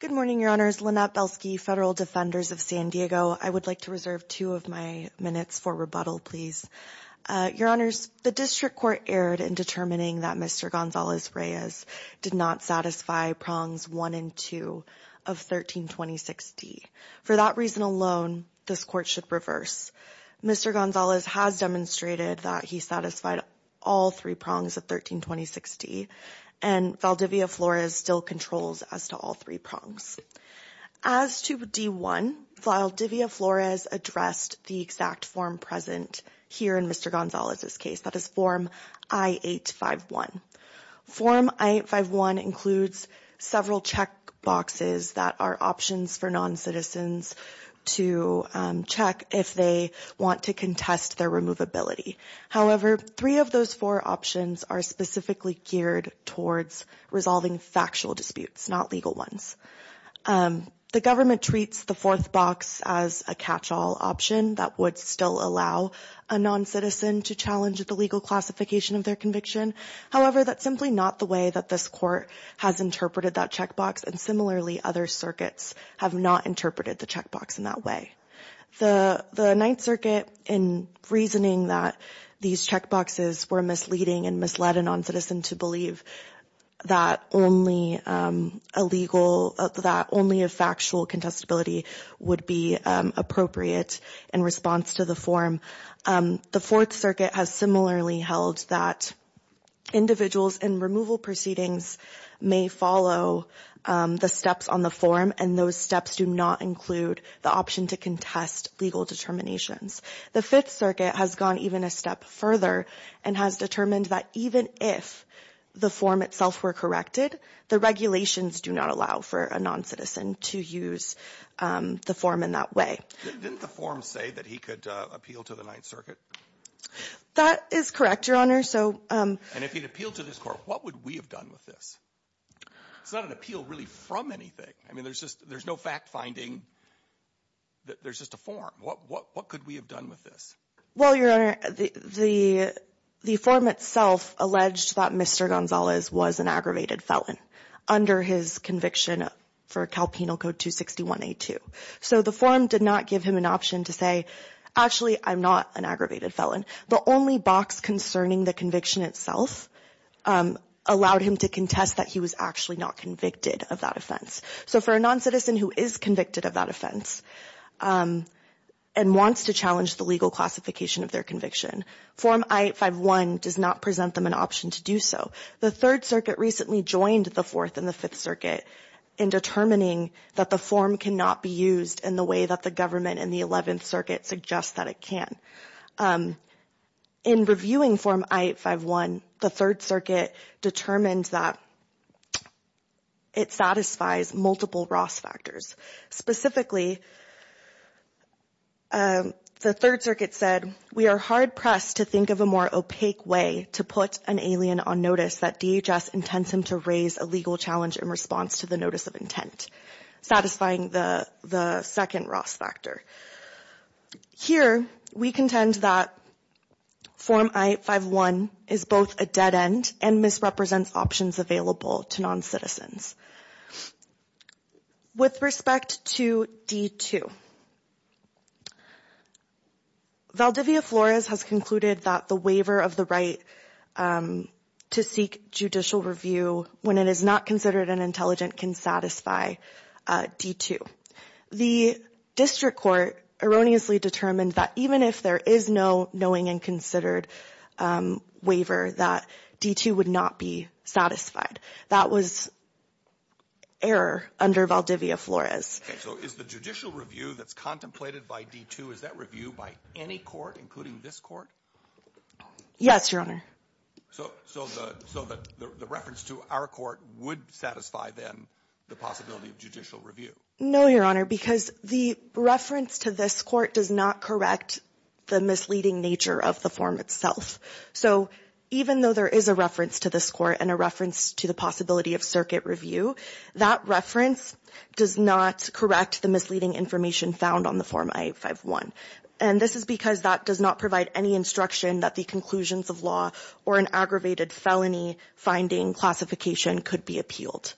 Good morning, Your Honors. Lynette Belsky, Federal Defenders of San Diego. I would like to reserve two of my minutes for rebuttal, please. Your Honors, the District Court erred in determining that Mr. Gonzalez-Reyes did not satisfy prongs 1 and 2 of 1326D. For that reason alone, this Court should reverse. Mr. Gonzalez has demonstrated that he satisfied all three prongs of 1326D, and Valdivia Flores still controls as to all three prongs. As to D1, Valdivia Flores addressed the exact form present here in Mr. Gonzalez's case, that is Form I-851. Form I-851 includes several check boxes that are options for noncitizens to check if they want to contest their removability. However, three of those four options are specifically geared towards resolving factual disputes, not legal ones. The government treats the fourth box as a catch-all option that would still allow a noncitizen to challenge the legal classification of their conviction. However, that's simply not the way that this Court has interpreted that check box, and similarly, other circuits have not interpreted the check box in that way. The Ninth Circuit, in reasoning that these check boxes were misleading and misled a noncitizen to believe that only a factual contestability would be appropriate in response to the form, the Fourth Circuit has similarly held that individuals in removal proceedings may follow the steps on the form, and those steps do not include the option to contest legal determinations. The Fifth Circuit has gone even a step further and has determined that even if the form itself were corrected, the regulations do not allow for a noncitizen to use the form in that way. Didn't the form say that he could appeal to the Ninth Circuit? That is correct, Your Honor. And if he'd appealed to this Court, what would we have done with this? It's not an appeal really from anything. I mean, there's just no fact-finding. There's just a form. What could we have done with this? Well, Your Honor, the form itself alleged that Mr. Gonzalez was an aggravated felon under his conviction for Cal Penal Code 261A2. So the form did not give him an option to say, actually, I'm not an aggravated felon. The only box concerning the conviction itself allowed him to contest that he was actually not convicted of that offense. So for a noncitizen who is convicted of that offense and wants to challenge the legal classification of their conviction, Form I-851 does not present them an option to do so. The Third Circuit recently joined the Fourth and the Fifth Circuit in determining that the form cannot be used in the way that the government in the Eleventh Circuit suggests that it can. In reviewing Form I-851, the Third Circuit determined that it satisfies multiple Ross factors. Specifically, the Third Circuit said, we are hard-pressed to think of a more opaque way to put an alien on notice that DHS intends him to raise a legal challenge in response to the notice of intent, satisfying the second Ross factor. Here, we contend that Form I-851 is both a dead end and misrepresents options available to noncitizens. With respect to D-2, Valdivia Flores has concluded that the waiver of the right to seek judicial review when it is not considered an intelligent can satisfy D-2. The District Court erroneously determined that even if there is no knowing and considered waiver, that D-2 would not be satisfied. That was error under Valdivia Flores. Okay. So is the judicial review that's contemplated by D-2, is that review by any court, including this court? Yes, Your Honor. So the reference to our court would satisfy, then, the possibility of judicial review? No, Your Honor, because the reference to this court does not correct the misleading nature of the form itself. So even though there is a reference to this court and a reference to the possibility of circuit review, that reference does not correct the misleading information found on the Form I-851. And this is because that does not provide any instruction that the conclusions of law or an aggravated felony finding classification could be appealed.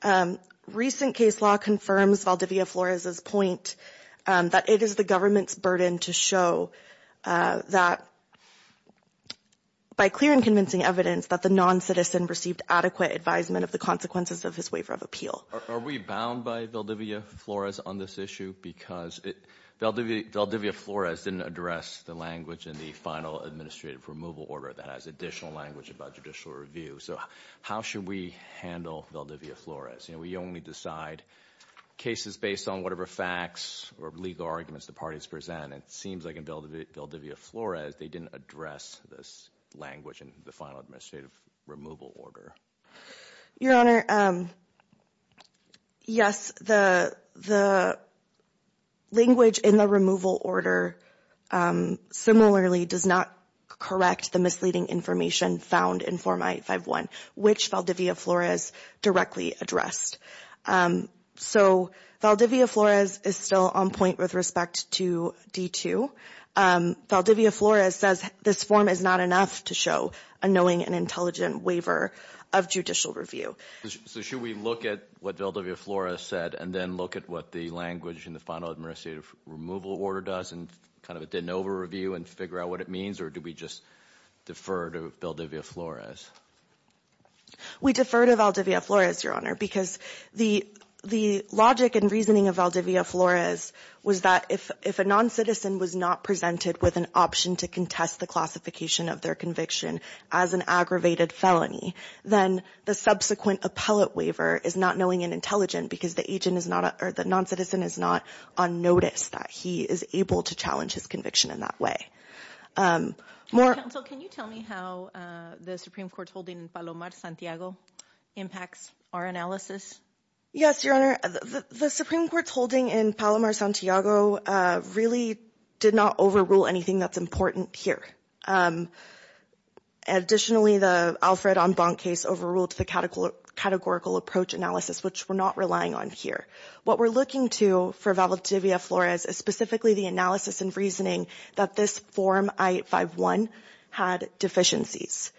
Correct. Recent case law confirms Valdivia Flores' point that it is the government's burden to show that, by clear and convincing evidence, that the non-citizen received adequate advisement of the consequences of his waiver of appeal. Are we bound by Valdivia Flores on this issue? Because Valdivia Flores didn't address the language in the final administrative removal order that has additional language about judicial review. So how should we handle Valdivia Flores? We only decide cases based on whatever facts or legal arguments the parties present. It seems like in Valdivia Flores they didn't address this language in the final administrative removal order. Your Honor, yes, the language in the removal order similarly does not correct the misleading information found in Form I-851, which Valdivia Flores directly addressed. So Valdivia Flores is still on point with respect to D-2. Valdivia Flores says this form is not enough to show a knowing and intelligent waiver of judicial review. So should we look at what Valdivia Flores said and then look at what the language in the final administrative removal order does and kind of a de novo review and figure out what it means? Or do we just defer to Valdivia Flores? We defer to Valdivia Flores, Your Honor, because the logic and reasoning of Valdivia Flores was that if a non-citizen was not presented with an option to contest the classification of their conviction as an aggravated felony, then the subsequent appellate waiver is not knowing and intelligent because the non-citizen is not on notice that he is able to challenge his conviction in that way. Counsel, can you tell me how the Supreme Court's holding in Palomar, Santiago impacts our analysis? Yes, Your Honor. The Supreme Court's holding in Palomar, Santiago really did not overrule anything that's important here. Additionally, the Alfred Onbon case overruled the categorical approach analysis, which we're not relying on here. What we're looking to for Valdivia Flores is specifically the analysis and reasoning that this form I-851 had deficiencies.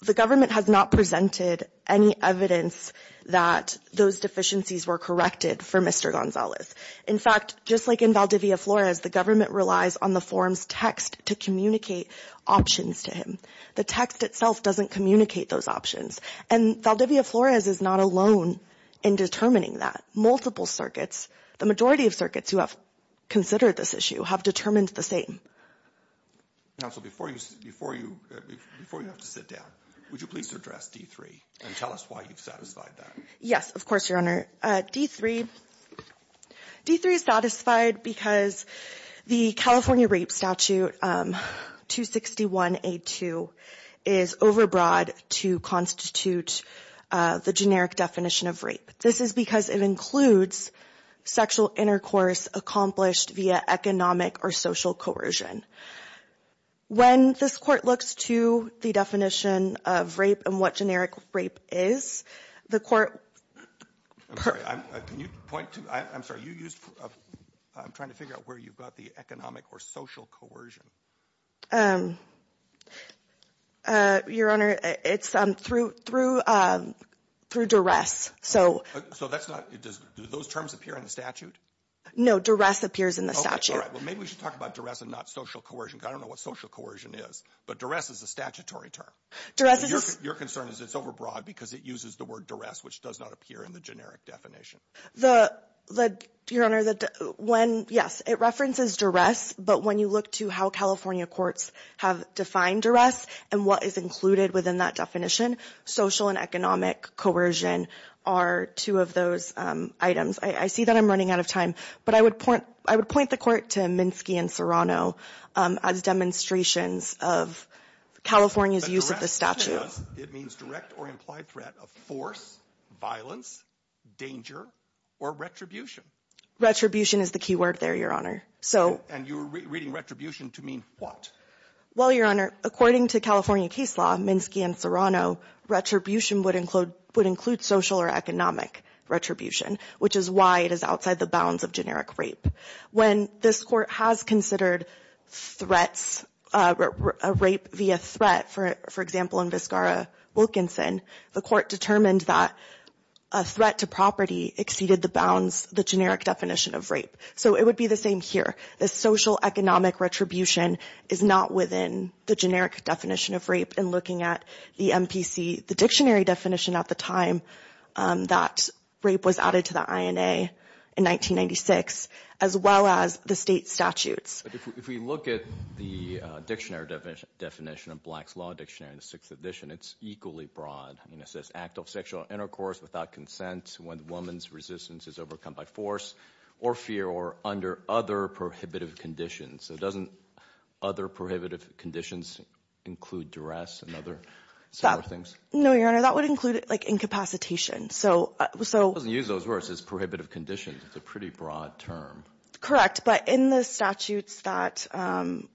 The government has not presented any evidence that those deficiencies were corrected for Mr. Gonzalez. In fact, just like in Valdivia Flores, the government relies on the form's text to communicate options to him. The text itself doesn't communicate those options. And Valdivia Flores is not alone in determining that. Multiple circuits, the majority of circuits who have considered this issue have determined the same. Counsel, before you have to sit down, would you please address D-3 and tell us why you've satisfied that? Yes, of course, Your Honor. D-3 is satisfied because the California Rape Statute 261A-2 is overbroad to constitute the generic definition of rape. This is because it includes sexual intercourse accomplished via economic or social coercion. When this Court looks to the definition of rape and what generic rape is, the Court... I'm sorry, I'm trying to figure out where you got the economic or social coercion. Your Honor, it's through duress. So that's not... Do those terms appear in the statute? No, duress appears in the statute. Okay, all right. Well, maybe we should talk about duress and not social coercion, because I don't know what social coercion is. But duress is a statutory term. Your concern is it's overbroad because it uses the word duress, which does not appear in the generic definition. The... Your Honor, when... Yes, it references duress, but when you look to how California courts have defined duress and what is included within that definition, social and economic coercion are two of those items. I see that I'm running out of time, but I would point the Court to Minsky and Serrano as demonstrations of California's use of the statute. It means direct or implied threat of force, violence, danger, or retribution. Retribution is the key word there, Your Honor. And you're reading retribution to mean what? Well, Your Honor, according to California case law, Minsky and Serrano, retribution would include social or economic retribution, which is why it is outside the bounds of generic rape. When this Court has considered threats, rape via threat, for example, in Vizcarra-Wilkinson, the Court determined that a threat to property exceeded the bounds, the generic definition of rape. So it would be the same here. The social economic retribution is not within the generic definition of rape. In looking at the MPC, the dictionary definition at the time that rape was added to the INA in 1996, as well as the state statutes. If we look at the dictionary definition of Black's Law Dictionary in the Sixth Edition, it's equally broad. It says act of sexual intercourse without consent when the woman's resistance is overcome by force or fear or under other prohibitive conditions. So doesn't other prohibitive conditions include duress and other similar things? No, Your Honor, that would include incapacitation. It doesn't use those words, prohibitive conditions. It's a pretty broad term. Correct, but in the statutes that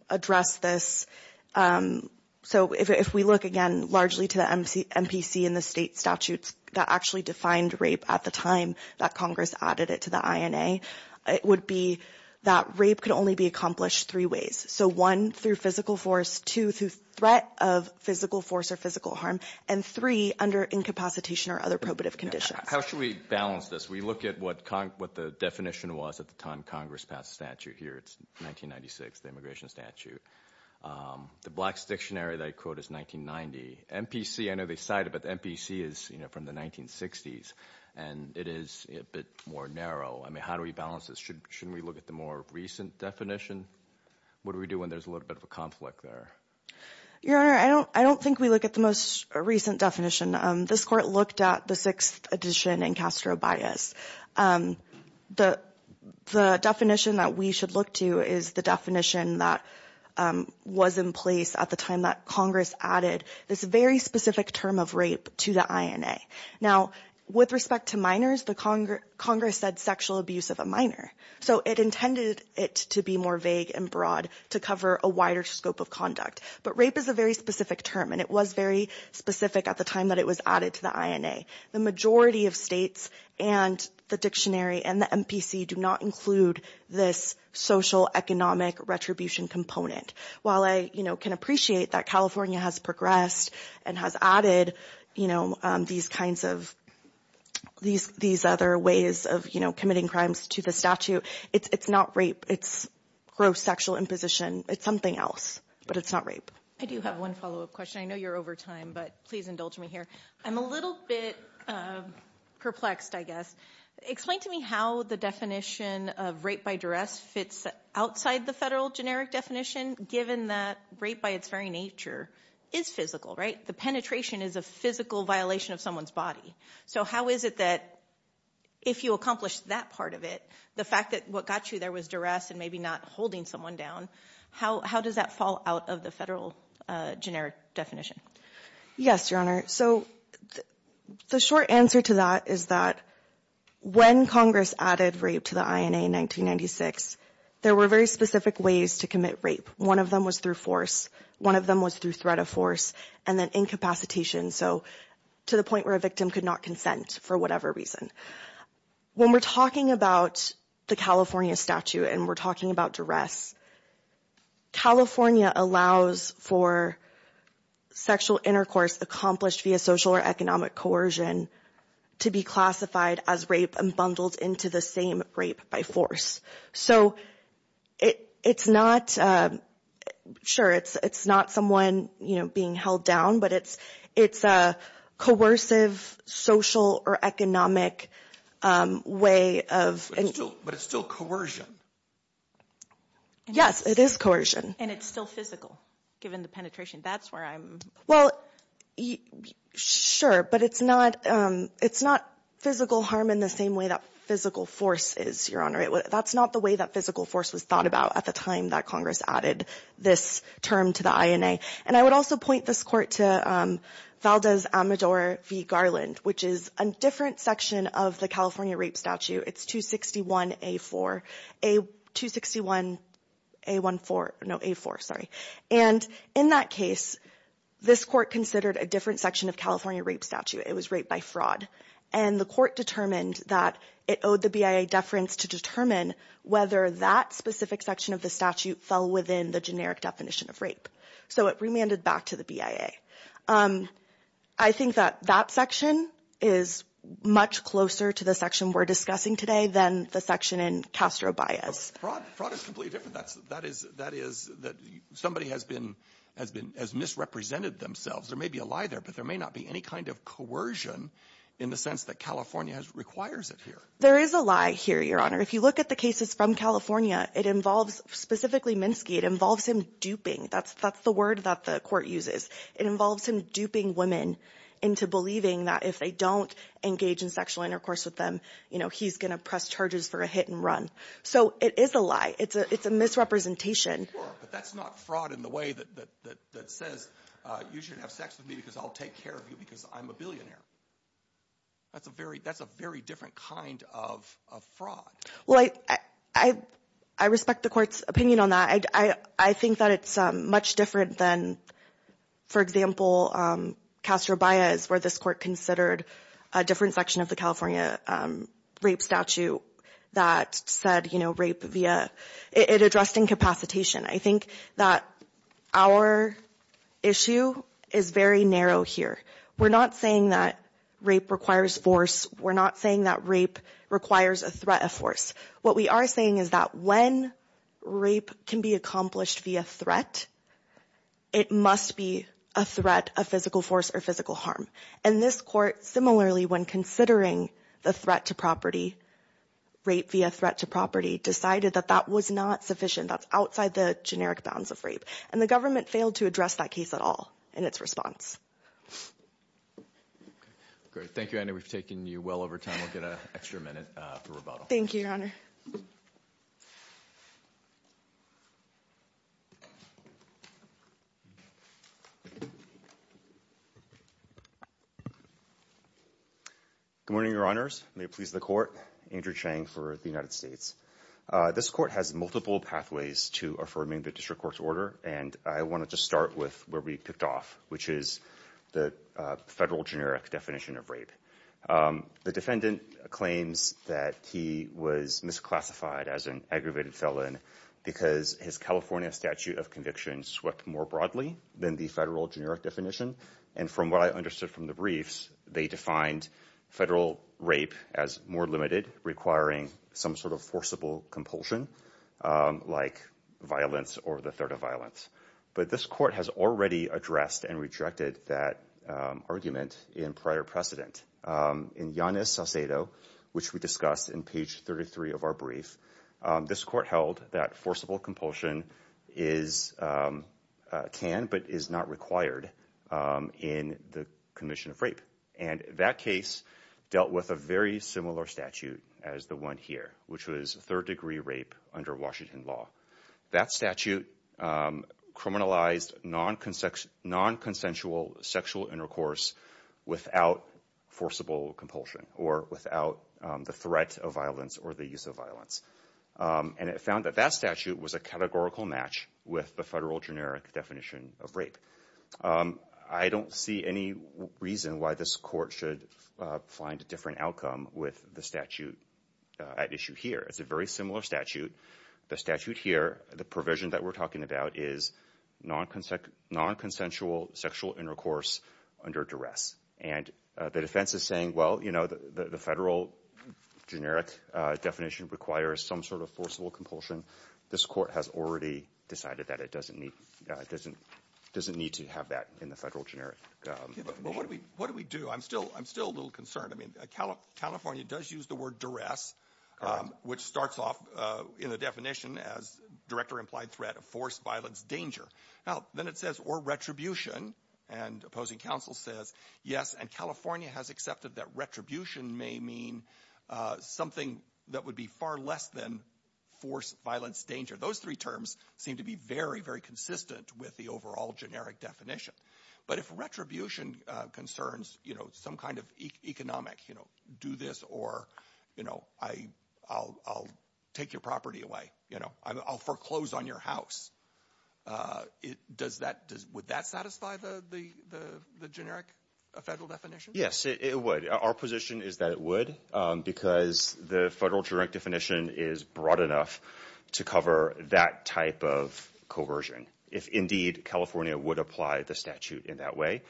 address this, so if we look again largely to the MPC and the state statutes that actually defined rape at the time that Congress added it to the INA, it would be that rape could only be accomplished three ways. So one, through physical force, two, through threat of physical force or physical harm, and three, under incapacitation or other prohibitive conditions. How should we balance this? We look at what the definition was at the time Congress passed the statute here. It's 1996, the immigration statute. The Black's Dictionary that I quote is 1990. MPC, I know they cite it, but MPC is from the 1960s and it is a bit more narrow. I mean, how do we balance this? Shouldn't we look at the more recent definition? What do we do when there's a little bit of a conflict there? Your Honor, I don't think we look at the most recent definition. This Court looked at the 6th edition in Castro Bias. The definition that we should look to is the definition that was in place at the time that Congress added this very specific term of rape to the INA. Now, with respect to minors, Congress said sexual abuse of a minor. So it intended it to be more vague and broad to cover a wider scope of conduct. But rape is a very specific term and it was very specific at the time that it was added to the INA. The majority of states and the dictionary and the MPC do not include this social economic retribution component. While I can appreciate that California has progressed and has added these other ways of committing crimes to the statute, it's not rape. It's gross sexual imposition. It's something else, but it's not rape. I do have one follow-up question. I know you're over time, but please indulge me here. I'm a little bit perplexed, I guess. Explain to me how the definition of rape by duress fits outside the federal generic definition given that rape by its very nature is physical, right? The penetration is a physical violation of someone's body. So how is it that if you accomplish that part of it, the fact that what got you there was duress and maybe not holding someone down, how does that fall out of the federal generic definition? Yes, Your Honor. So the short answer to that is that when Congress added rape to the INA in 1996, there were very specific ways to commit rape. One of them was through force, one of them was through threat of force, and then incapacitation. So to the point where a victim could not consent for whatever reason. When we're talking about the California statute and we're talking about duress, California allows for sexual intercourse accomplished via social or economic coercion to be classified as rape and bundled into the same rape by force. So it's not, sure, it's not someone, you know, being held down, but it's a coercive social or economic way of... But it's still coercion. Yes, it is coercion. And it's still physical, given the penetration. That's where I'm... Well, sure, but it's not physical harm in the same way that physical force is, Your Honor. That's not the way that physical force was thought about at the time that Congress added this term to the INA. And I would also point this Court to Valdez-Amedore v. Garland, which is a different section of the California rape statute. It's 261A4, 261A14, no, A4, sorry. And in that case, this Court considered a different section of California rape statute. It was rape by fraud, and the Court determined that it owed the BIA deference to determine whether that specific section of the statute fell within the generic definition of rape. So it remanded back to the BIA. I think that that section is much closer to the section we're discussing today than the section in Castro-Baez. Fraud is completely different. That is that somebody has been, has misrepresented themselves. There may be a lie there, but there may not be any kind of coercion in the sense that California requires it here. There is a lie here, Your Honor. If you look at the cases from California, it involves, specifically Minsky, it involves him duping. That's the word that the Court uses. It involves him duping women into believing that if they don't engage in sexual intercourse with them, you know, he's going to press charges for a hit and run. So it is a lie. It's a misrepresentation. Sure, but that's not fraud in the way that says you shouldn't have sex with me because I'll take care of you because I'm a billionaire. That's a very, that's a very different kind of fraud. Well, I respect the Court's opinion on that. I think that it's much different than, for example, Castro-Baez, where this Court considered a different section of the California rape statute that said, you know, rape via, it addressed incapacitation. I think that our issue is very narrow here. We're not saying that rape requires force, we're not saying that rape requires a threat of force. What we are saying is that when rape can be accomplished via threat, it must be a threat of physical force or physical harm. And this Court, similarly, when considering the threat to property, rape via threat to property, decided that that was not sufficient. That's outside the generic bounds of rape. Great, thank you, Anna. We've taken you well over time. We'll get an extra minute for rebuttal. Thank you, Your Honor. Good morning, Your Honors. May it please the Court. Andrew Chang for the United States. This Court has multiple pathways to affirming the District Court's order, and I wanted to start with where we picked off, which is the federal generic definition of rape. The defendant claims that he was misclassified as an aggravated felon because his California statute of conviction swept more broadly than the federal generic definition. And from what I understood from the briefs, they defined federal rape as more limited, requiring some sort of forcible compulsion, like violence or the threat of violence. But this Court has already addressed and rejected that argument in prior precedent. In Yanis Sacedo, which we discussed in page 33 of our brief, this Court held that forcible compulsion is, can, but is not required. In the commission of rape, and that case dealt with a very similar statute as the one here, which was third-degree rape under Washington law. That statute criminalized non-consensual sexual intercourse without forcible compulsion or without the threat of violence or the use of violence. And it found that that statute was a categorical match with the federal generic definition of rape. I don't see any reason why this Court should find a different outcome with the statute at issue here. It's a very similar statute. The statute here, the provision that we're talking about is non-consensual sexual intercourse under duress. And the defense is saying, well, you know, the federal generic definition requires some sort of forcible compulsion. This Court has already decided that it doesn't need to have that in the federal generic definition. What do we do? I'm still a little concerned. I mean, California does use the word duress, which starts off in the definition as direct or implied threat of force, violence, danger. Now, then it says, or retribution, and opposing counsel says, yes, and California has accepted that retribution may mean something that would be far less than force, violence, danger. Those three terms seem to be very, very consistent with the overall generic definition. But if retribution concerns, you know, some kind of economic, you know, do this or, you know, I'll take your property away. You know, I'll foreclose on your house. Would that satisfy the generic federal definition? Yes, it would. Our position is that it would, because the federal generic definition is broad enough to cover that type of coercion. If indeed California would apply the statute in that way.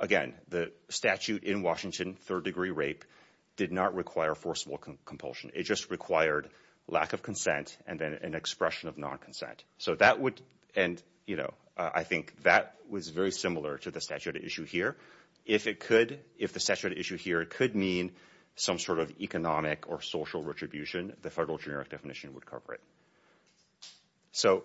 Again, the statute in Washington, third degree rape, did not require forcible compulsion. It just required lack of consent and then an expression of non-consent. So that would, and, you know, I think that was very similar to the statute at issue here. If it could, if the statute at issue here could mean some sort of economic or social retribution, the federal generic definition would cover it. So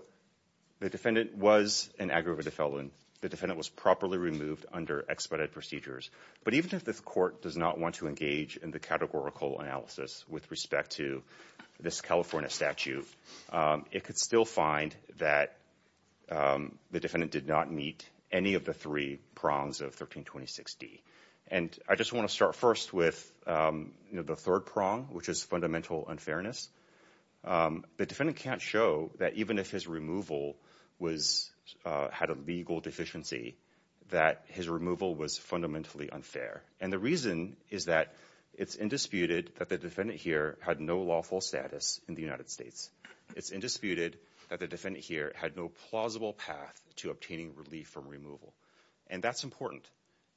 the defendant was an aggravated felon. The defendant was properly removed under expedited procedures. But even if this court does not want to engage in the categorical analysis with respect to this California statute, it could still find that the defendant did not meet any of the three prongs of 1326D. And I just want to start first with, you know, the third prong, which is fundamental unfairness. The defendant can't show that even if his removal was, had a legal deficiency, that his removal was fundamentally unfair. And the reason is that it's indisputed that the defendant here had no lawful status in the United States. It's indisputed that the defendant here had no plausible path to obtaining relief from removal. And that's important.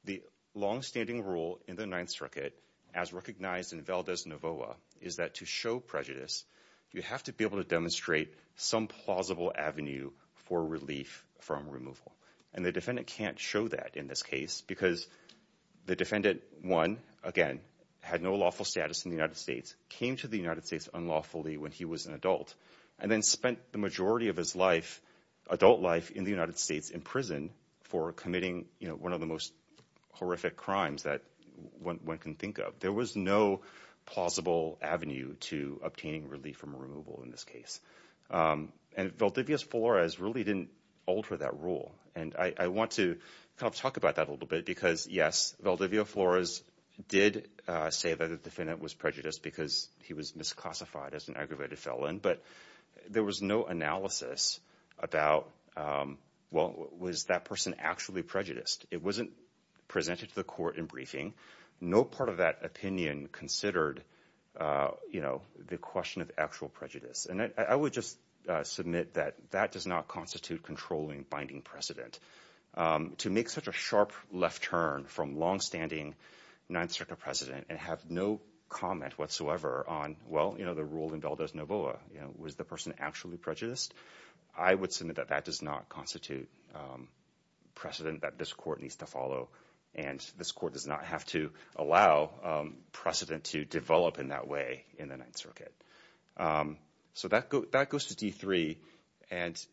The longstanding rule in the Ninth Circuit, as recognized in Valdes-Navoa, is that to show prejudice, you have to be able to demonstrate some plausible avenue for relief from removal. And the defendant can't show that in this case because the defendant, one, again, had no lawful status in the United States, came to the United States unlawfully when he was an adult, and then spent the majority of his life, adult life, in the United States in prison for committing, you know, one of the most horrific crimes that one can think of. There was no plausible avenue to obtaining relief from removal in this case. And Valdivia Flores really didn't alter that rule. And I want to kind of talk about that a little bit because, yes, Valdivia Flores did say that the defendant was prejudiced because he was misclassified as an aggravated felon. But there was no analysis about, well, was that person actually prejudiced? It wasn't presented to the court in briefing. No part of that opinion considered, you know, the question of actual prejudice. And I would just submit that that does not constitute controlling binding precedent. To make such a sharp left turn from longstanding Ninth Circuit precedent and have no comment whatsoever on, well, you know, the rule in Valdes-Novoa, you know, was the person actually prejudiced? I would submit that that does not constitute precedent that this court needs to follow and this court does not have to allow precedent to develop in that way in the Ninth Circuit. So that goes to D3. And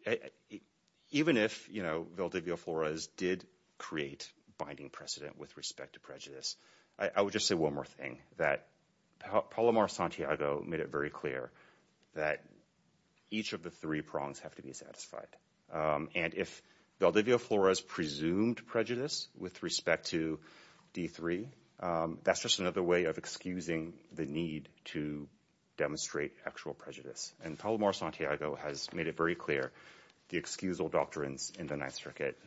even if, you know, Valdivia Flores did create binding precedent with respect to prejudice, I would just say one more thing, that Palomar Santiago made it very clear that each of the three prongs have to be satisfied. And if Valdivia Flores presumed prejudice with respect to D3, that's just another way of excusing the need to demonstrate actual prejudice. And Palomar Santiago has made it very clear the excusal doctrines in the Ninth Circuit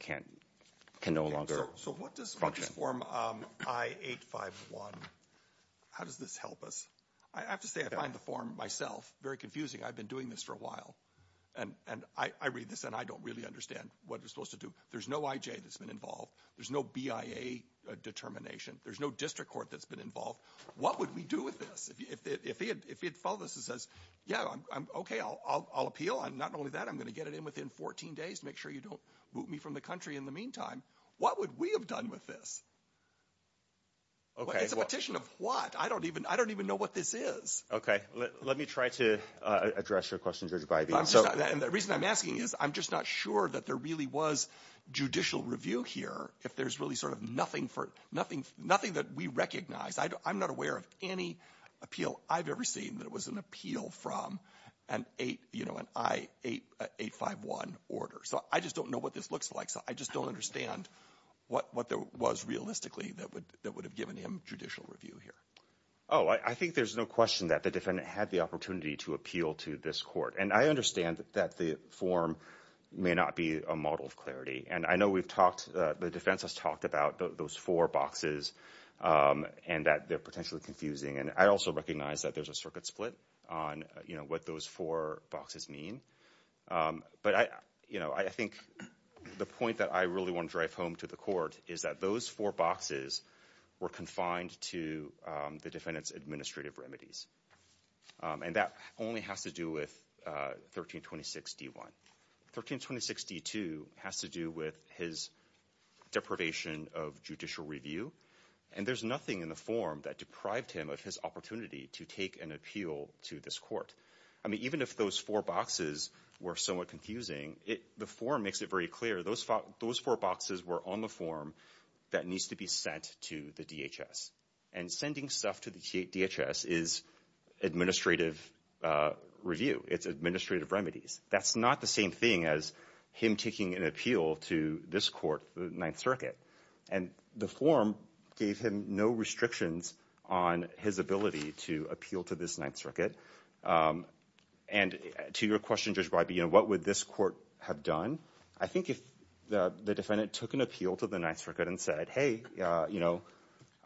can no longer function. So what does Form I-851, how does this help us? I have to say I find the form myself very confusing. I've been doing this for a while. And I read this and I don't really understand what it's supposed to do. There's no IJ that's been involved. There's no BIA determination. There's no district court that's been involved. What would we do with this? If he had filed this and says, yeah, okay, I'll appeal. Not only that, I'm going to get it in within 14 days to make sure you don't boot me from the country in the meantime. What would we have done with this? It's a petition of what? I don't even know what this is. Okay. Let me try to address your question, Judge Bybee. The reason I'm asking is I'm just not sure that there really was judicial review here if there's really sort of nothing that we recognize. I'm not aware of any appeal I've ever seen that was an appeal from an I-851 order. So I just don't know what this looks like. So I just don't understand what there was realistically that would have given him judicial review here. Oh, I think there's no question that the defendant had the opportunity to appeal to this court. And I understand that the form may not be a model of clarity. And I know the defense has talked about those four boxes and that they're potentially confusing. And I also recognize that there's a circuit split on what those four boxes mean. But I think the point that I really want to drive home to the court is that those four boxes were confined to the defendant's administrative remedies. And that only has to do with 1326 D-1. 1326 D-2 has to do with his deprivation of judicial review. And there's nothing in the form that deprived him of his opportunity to take an appeal to this court. I mean, even if those four boxes were somewhat confusing, the form makes it very clear those four boxes were on the form that needs to be sent to the DHS. And sending stuff to the DHS is administrative review. It's administrative remedies. That's not the same thing as him taking an appeal to this court, the Ninth Circuit. And the form gave him no restrictions on his ability to appeal to this Ninth Circuit. And to your question, Judge Breybien, what would this court have done? I think if the defendant took an appeal to the Ninth Circuit and said, hey, you know,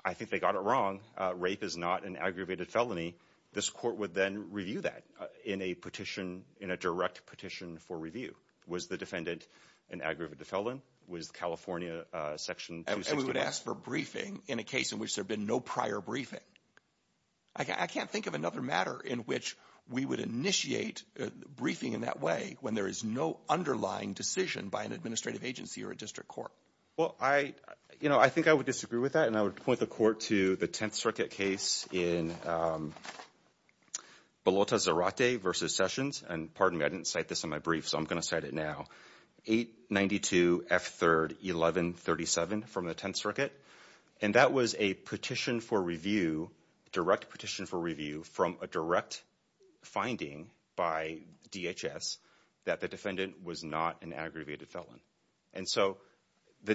I think they got it wrong. Rape is not an aggravated felony. This court would then review that in a petition, in a direct petition for review. Was the defendant an aggravated felon? And we would ask for briefing in a case in which there had been no prior briefing. I can't think of another matter in which we would initiate briefing in that way when there is no underlying decision by an administrative agency or a district court. Well, I, you know, I think I would disagree with that. And I would point the court to the Tenth Circuit case in Belotta Zarate v. Sessions. And pardon me, I didn't cite this in my brief, so I'm going to cite it now. 892 F. 3rd 1137 from the Tenth Circuit. And that was a petition for review, direct petition for review from a direct finding by DHS that the defendant was not an aggravated felon. And so the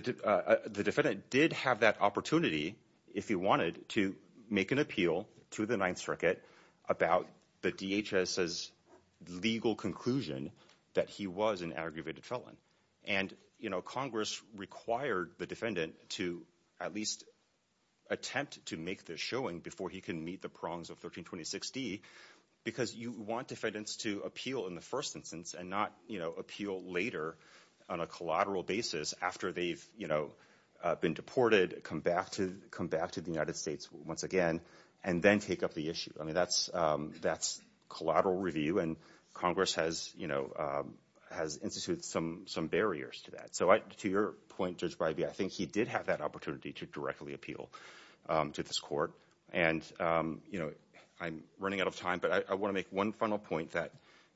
defendant did have that opportunity, if he wanted, to make an appeal to the Ninth Circuit about the DHS's legal conclusion that he was an aggravated felon. And, you know, Congress required the defendant to at least attempt to make this showing before he can meet the prongs of 1326 D because you want defendants to appeal in the first instance and not, you know, appeal later on a collateral basis after they've, you know, been deported, come back to the United States once again and then take up the issue. I mean, that's collateral review and Congress has, you know, has instituted some barriers to that. So to your point, Judge Breybe, I think he did have that opportunity to directly appeal to this court. And, you know, I'm running out of time, but I want to make one final point that,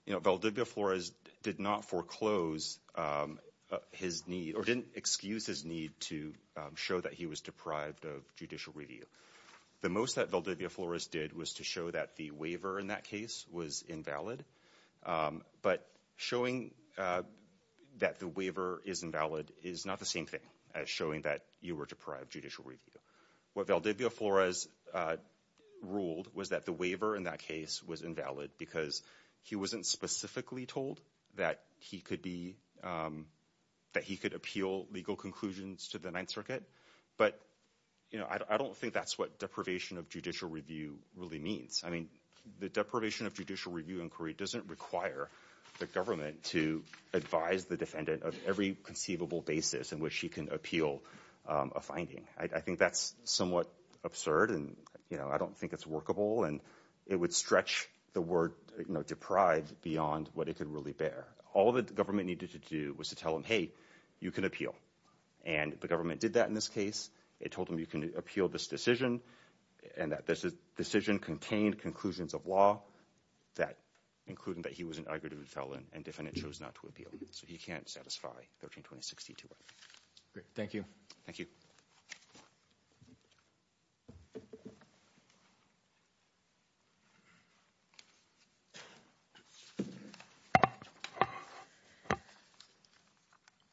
you know, Valdivia Flores did not foreclose his need or didn't excuse his need to show that he was deprived of judicial review. The most that Valdivia Flores did was to show that the waiver in that case was invalid. But showing that the waiver is invalid is not the same thing as showing that you were deprived of judicial review. What Valdivia Flores ruled was that the waiver in that case was invalid because he wasn't specifically told that he could appeal legal conclusions to the Ninth Circuit. But, you know, I don't think that's what deprivation of judicial review really means. I mean, the deprivation of judicial review inquiry doesn't require the government to advise the defendant of every conceivable basis in which he can appeal a finding. I think that's somewhat absurd and, you know, I don't think it's workable and it would stretch the word deprived beyond what it could really bear. All the government needed to do was to tell him, hey, you can appeal. And the government did that in this case. It told him you can appeal this decision and that this decision contained conclusions of law that included that he was an arrogant felon and the defendant chose not to appeal. So he can't satisfy 132062. Thank you.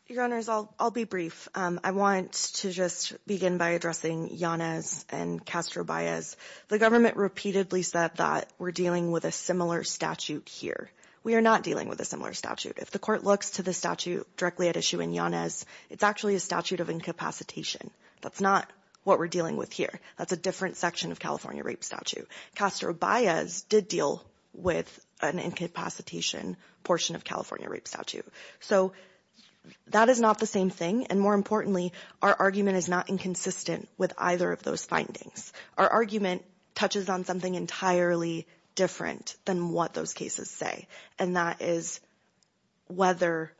Your Honors, I'll be brief. I want to just begin by addressing Yanez and Castro-Baez. The government repeatedly said that we're dealing with a similar statute here. We are not dealing with a similar statute. If the court looks to the statute directly at issue in Yanez, it's actually a statute of incapacitation. That's not what we're dealing with here. That's a different section of California rape statute. Castro-Baez did deal with an incapacitation portion of California rape statute. So that is not the same thing. And more importantly, our argument is not inconsistent with either of those findings. Our argument touches on something entirely different than what those cases say. And that is whether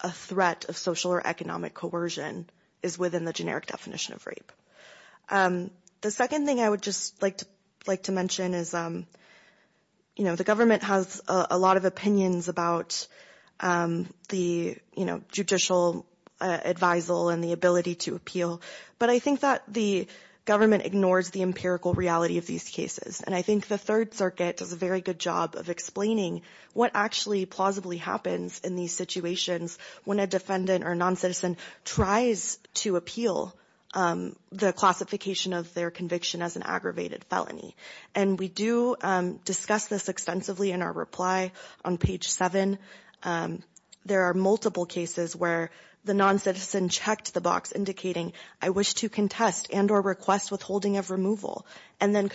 a threat of social or economic coercion is within the generic definition of rape. The second thing I would just like to mention is the government has a lot of opinions about the judicial advisal and the ability to appeal. But I think that the government ignores the empirical reality of these cases. And I think the Third Circuit does a very good job of explaining what actually plausibly happens in these situations when a defendant or non-citizen tries to appeal the classification of their conviction as an aggravated felony. And we do discuss this extensively in our reply on page 7. There are multiple cases where the non-citizen checked the box indicating, I wish to contest and or request withholding of removal. And then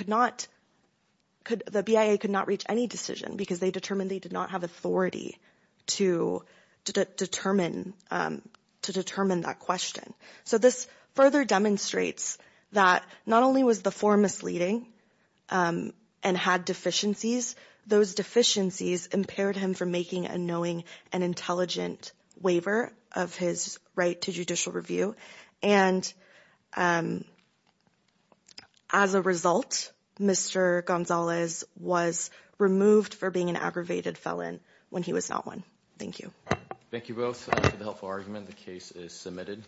the BIA could not reach any decision because they determined they did not have authority to determine that question. So this further demonstrates that not only was the form misleading and had deficiencies, those deficiencies impaired him from making a knowing and intelligent waiver of his right to judicial review and as a result, Mr. Gonzalez was removed for being an aggravated felon when he was not one. Thank you. Thank you both for the helpful argument. The case is submitted.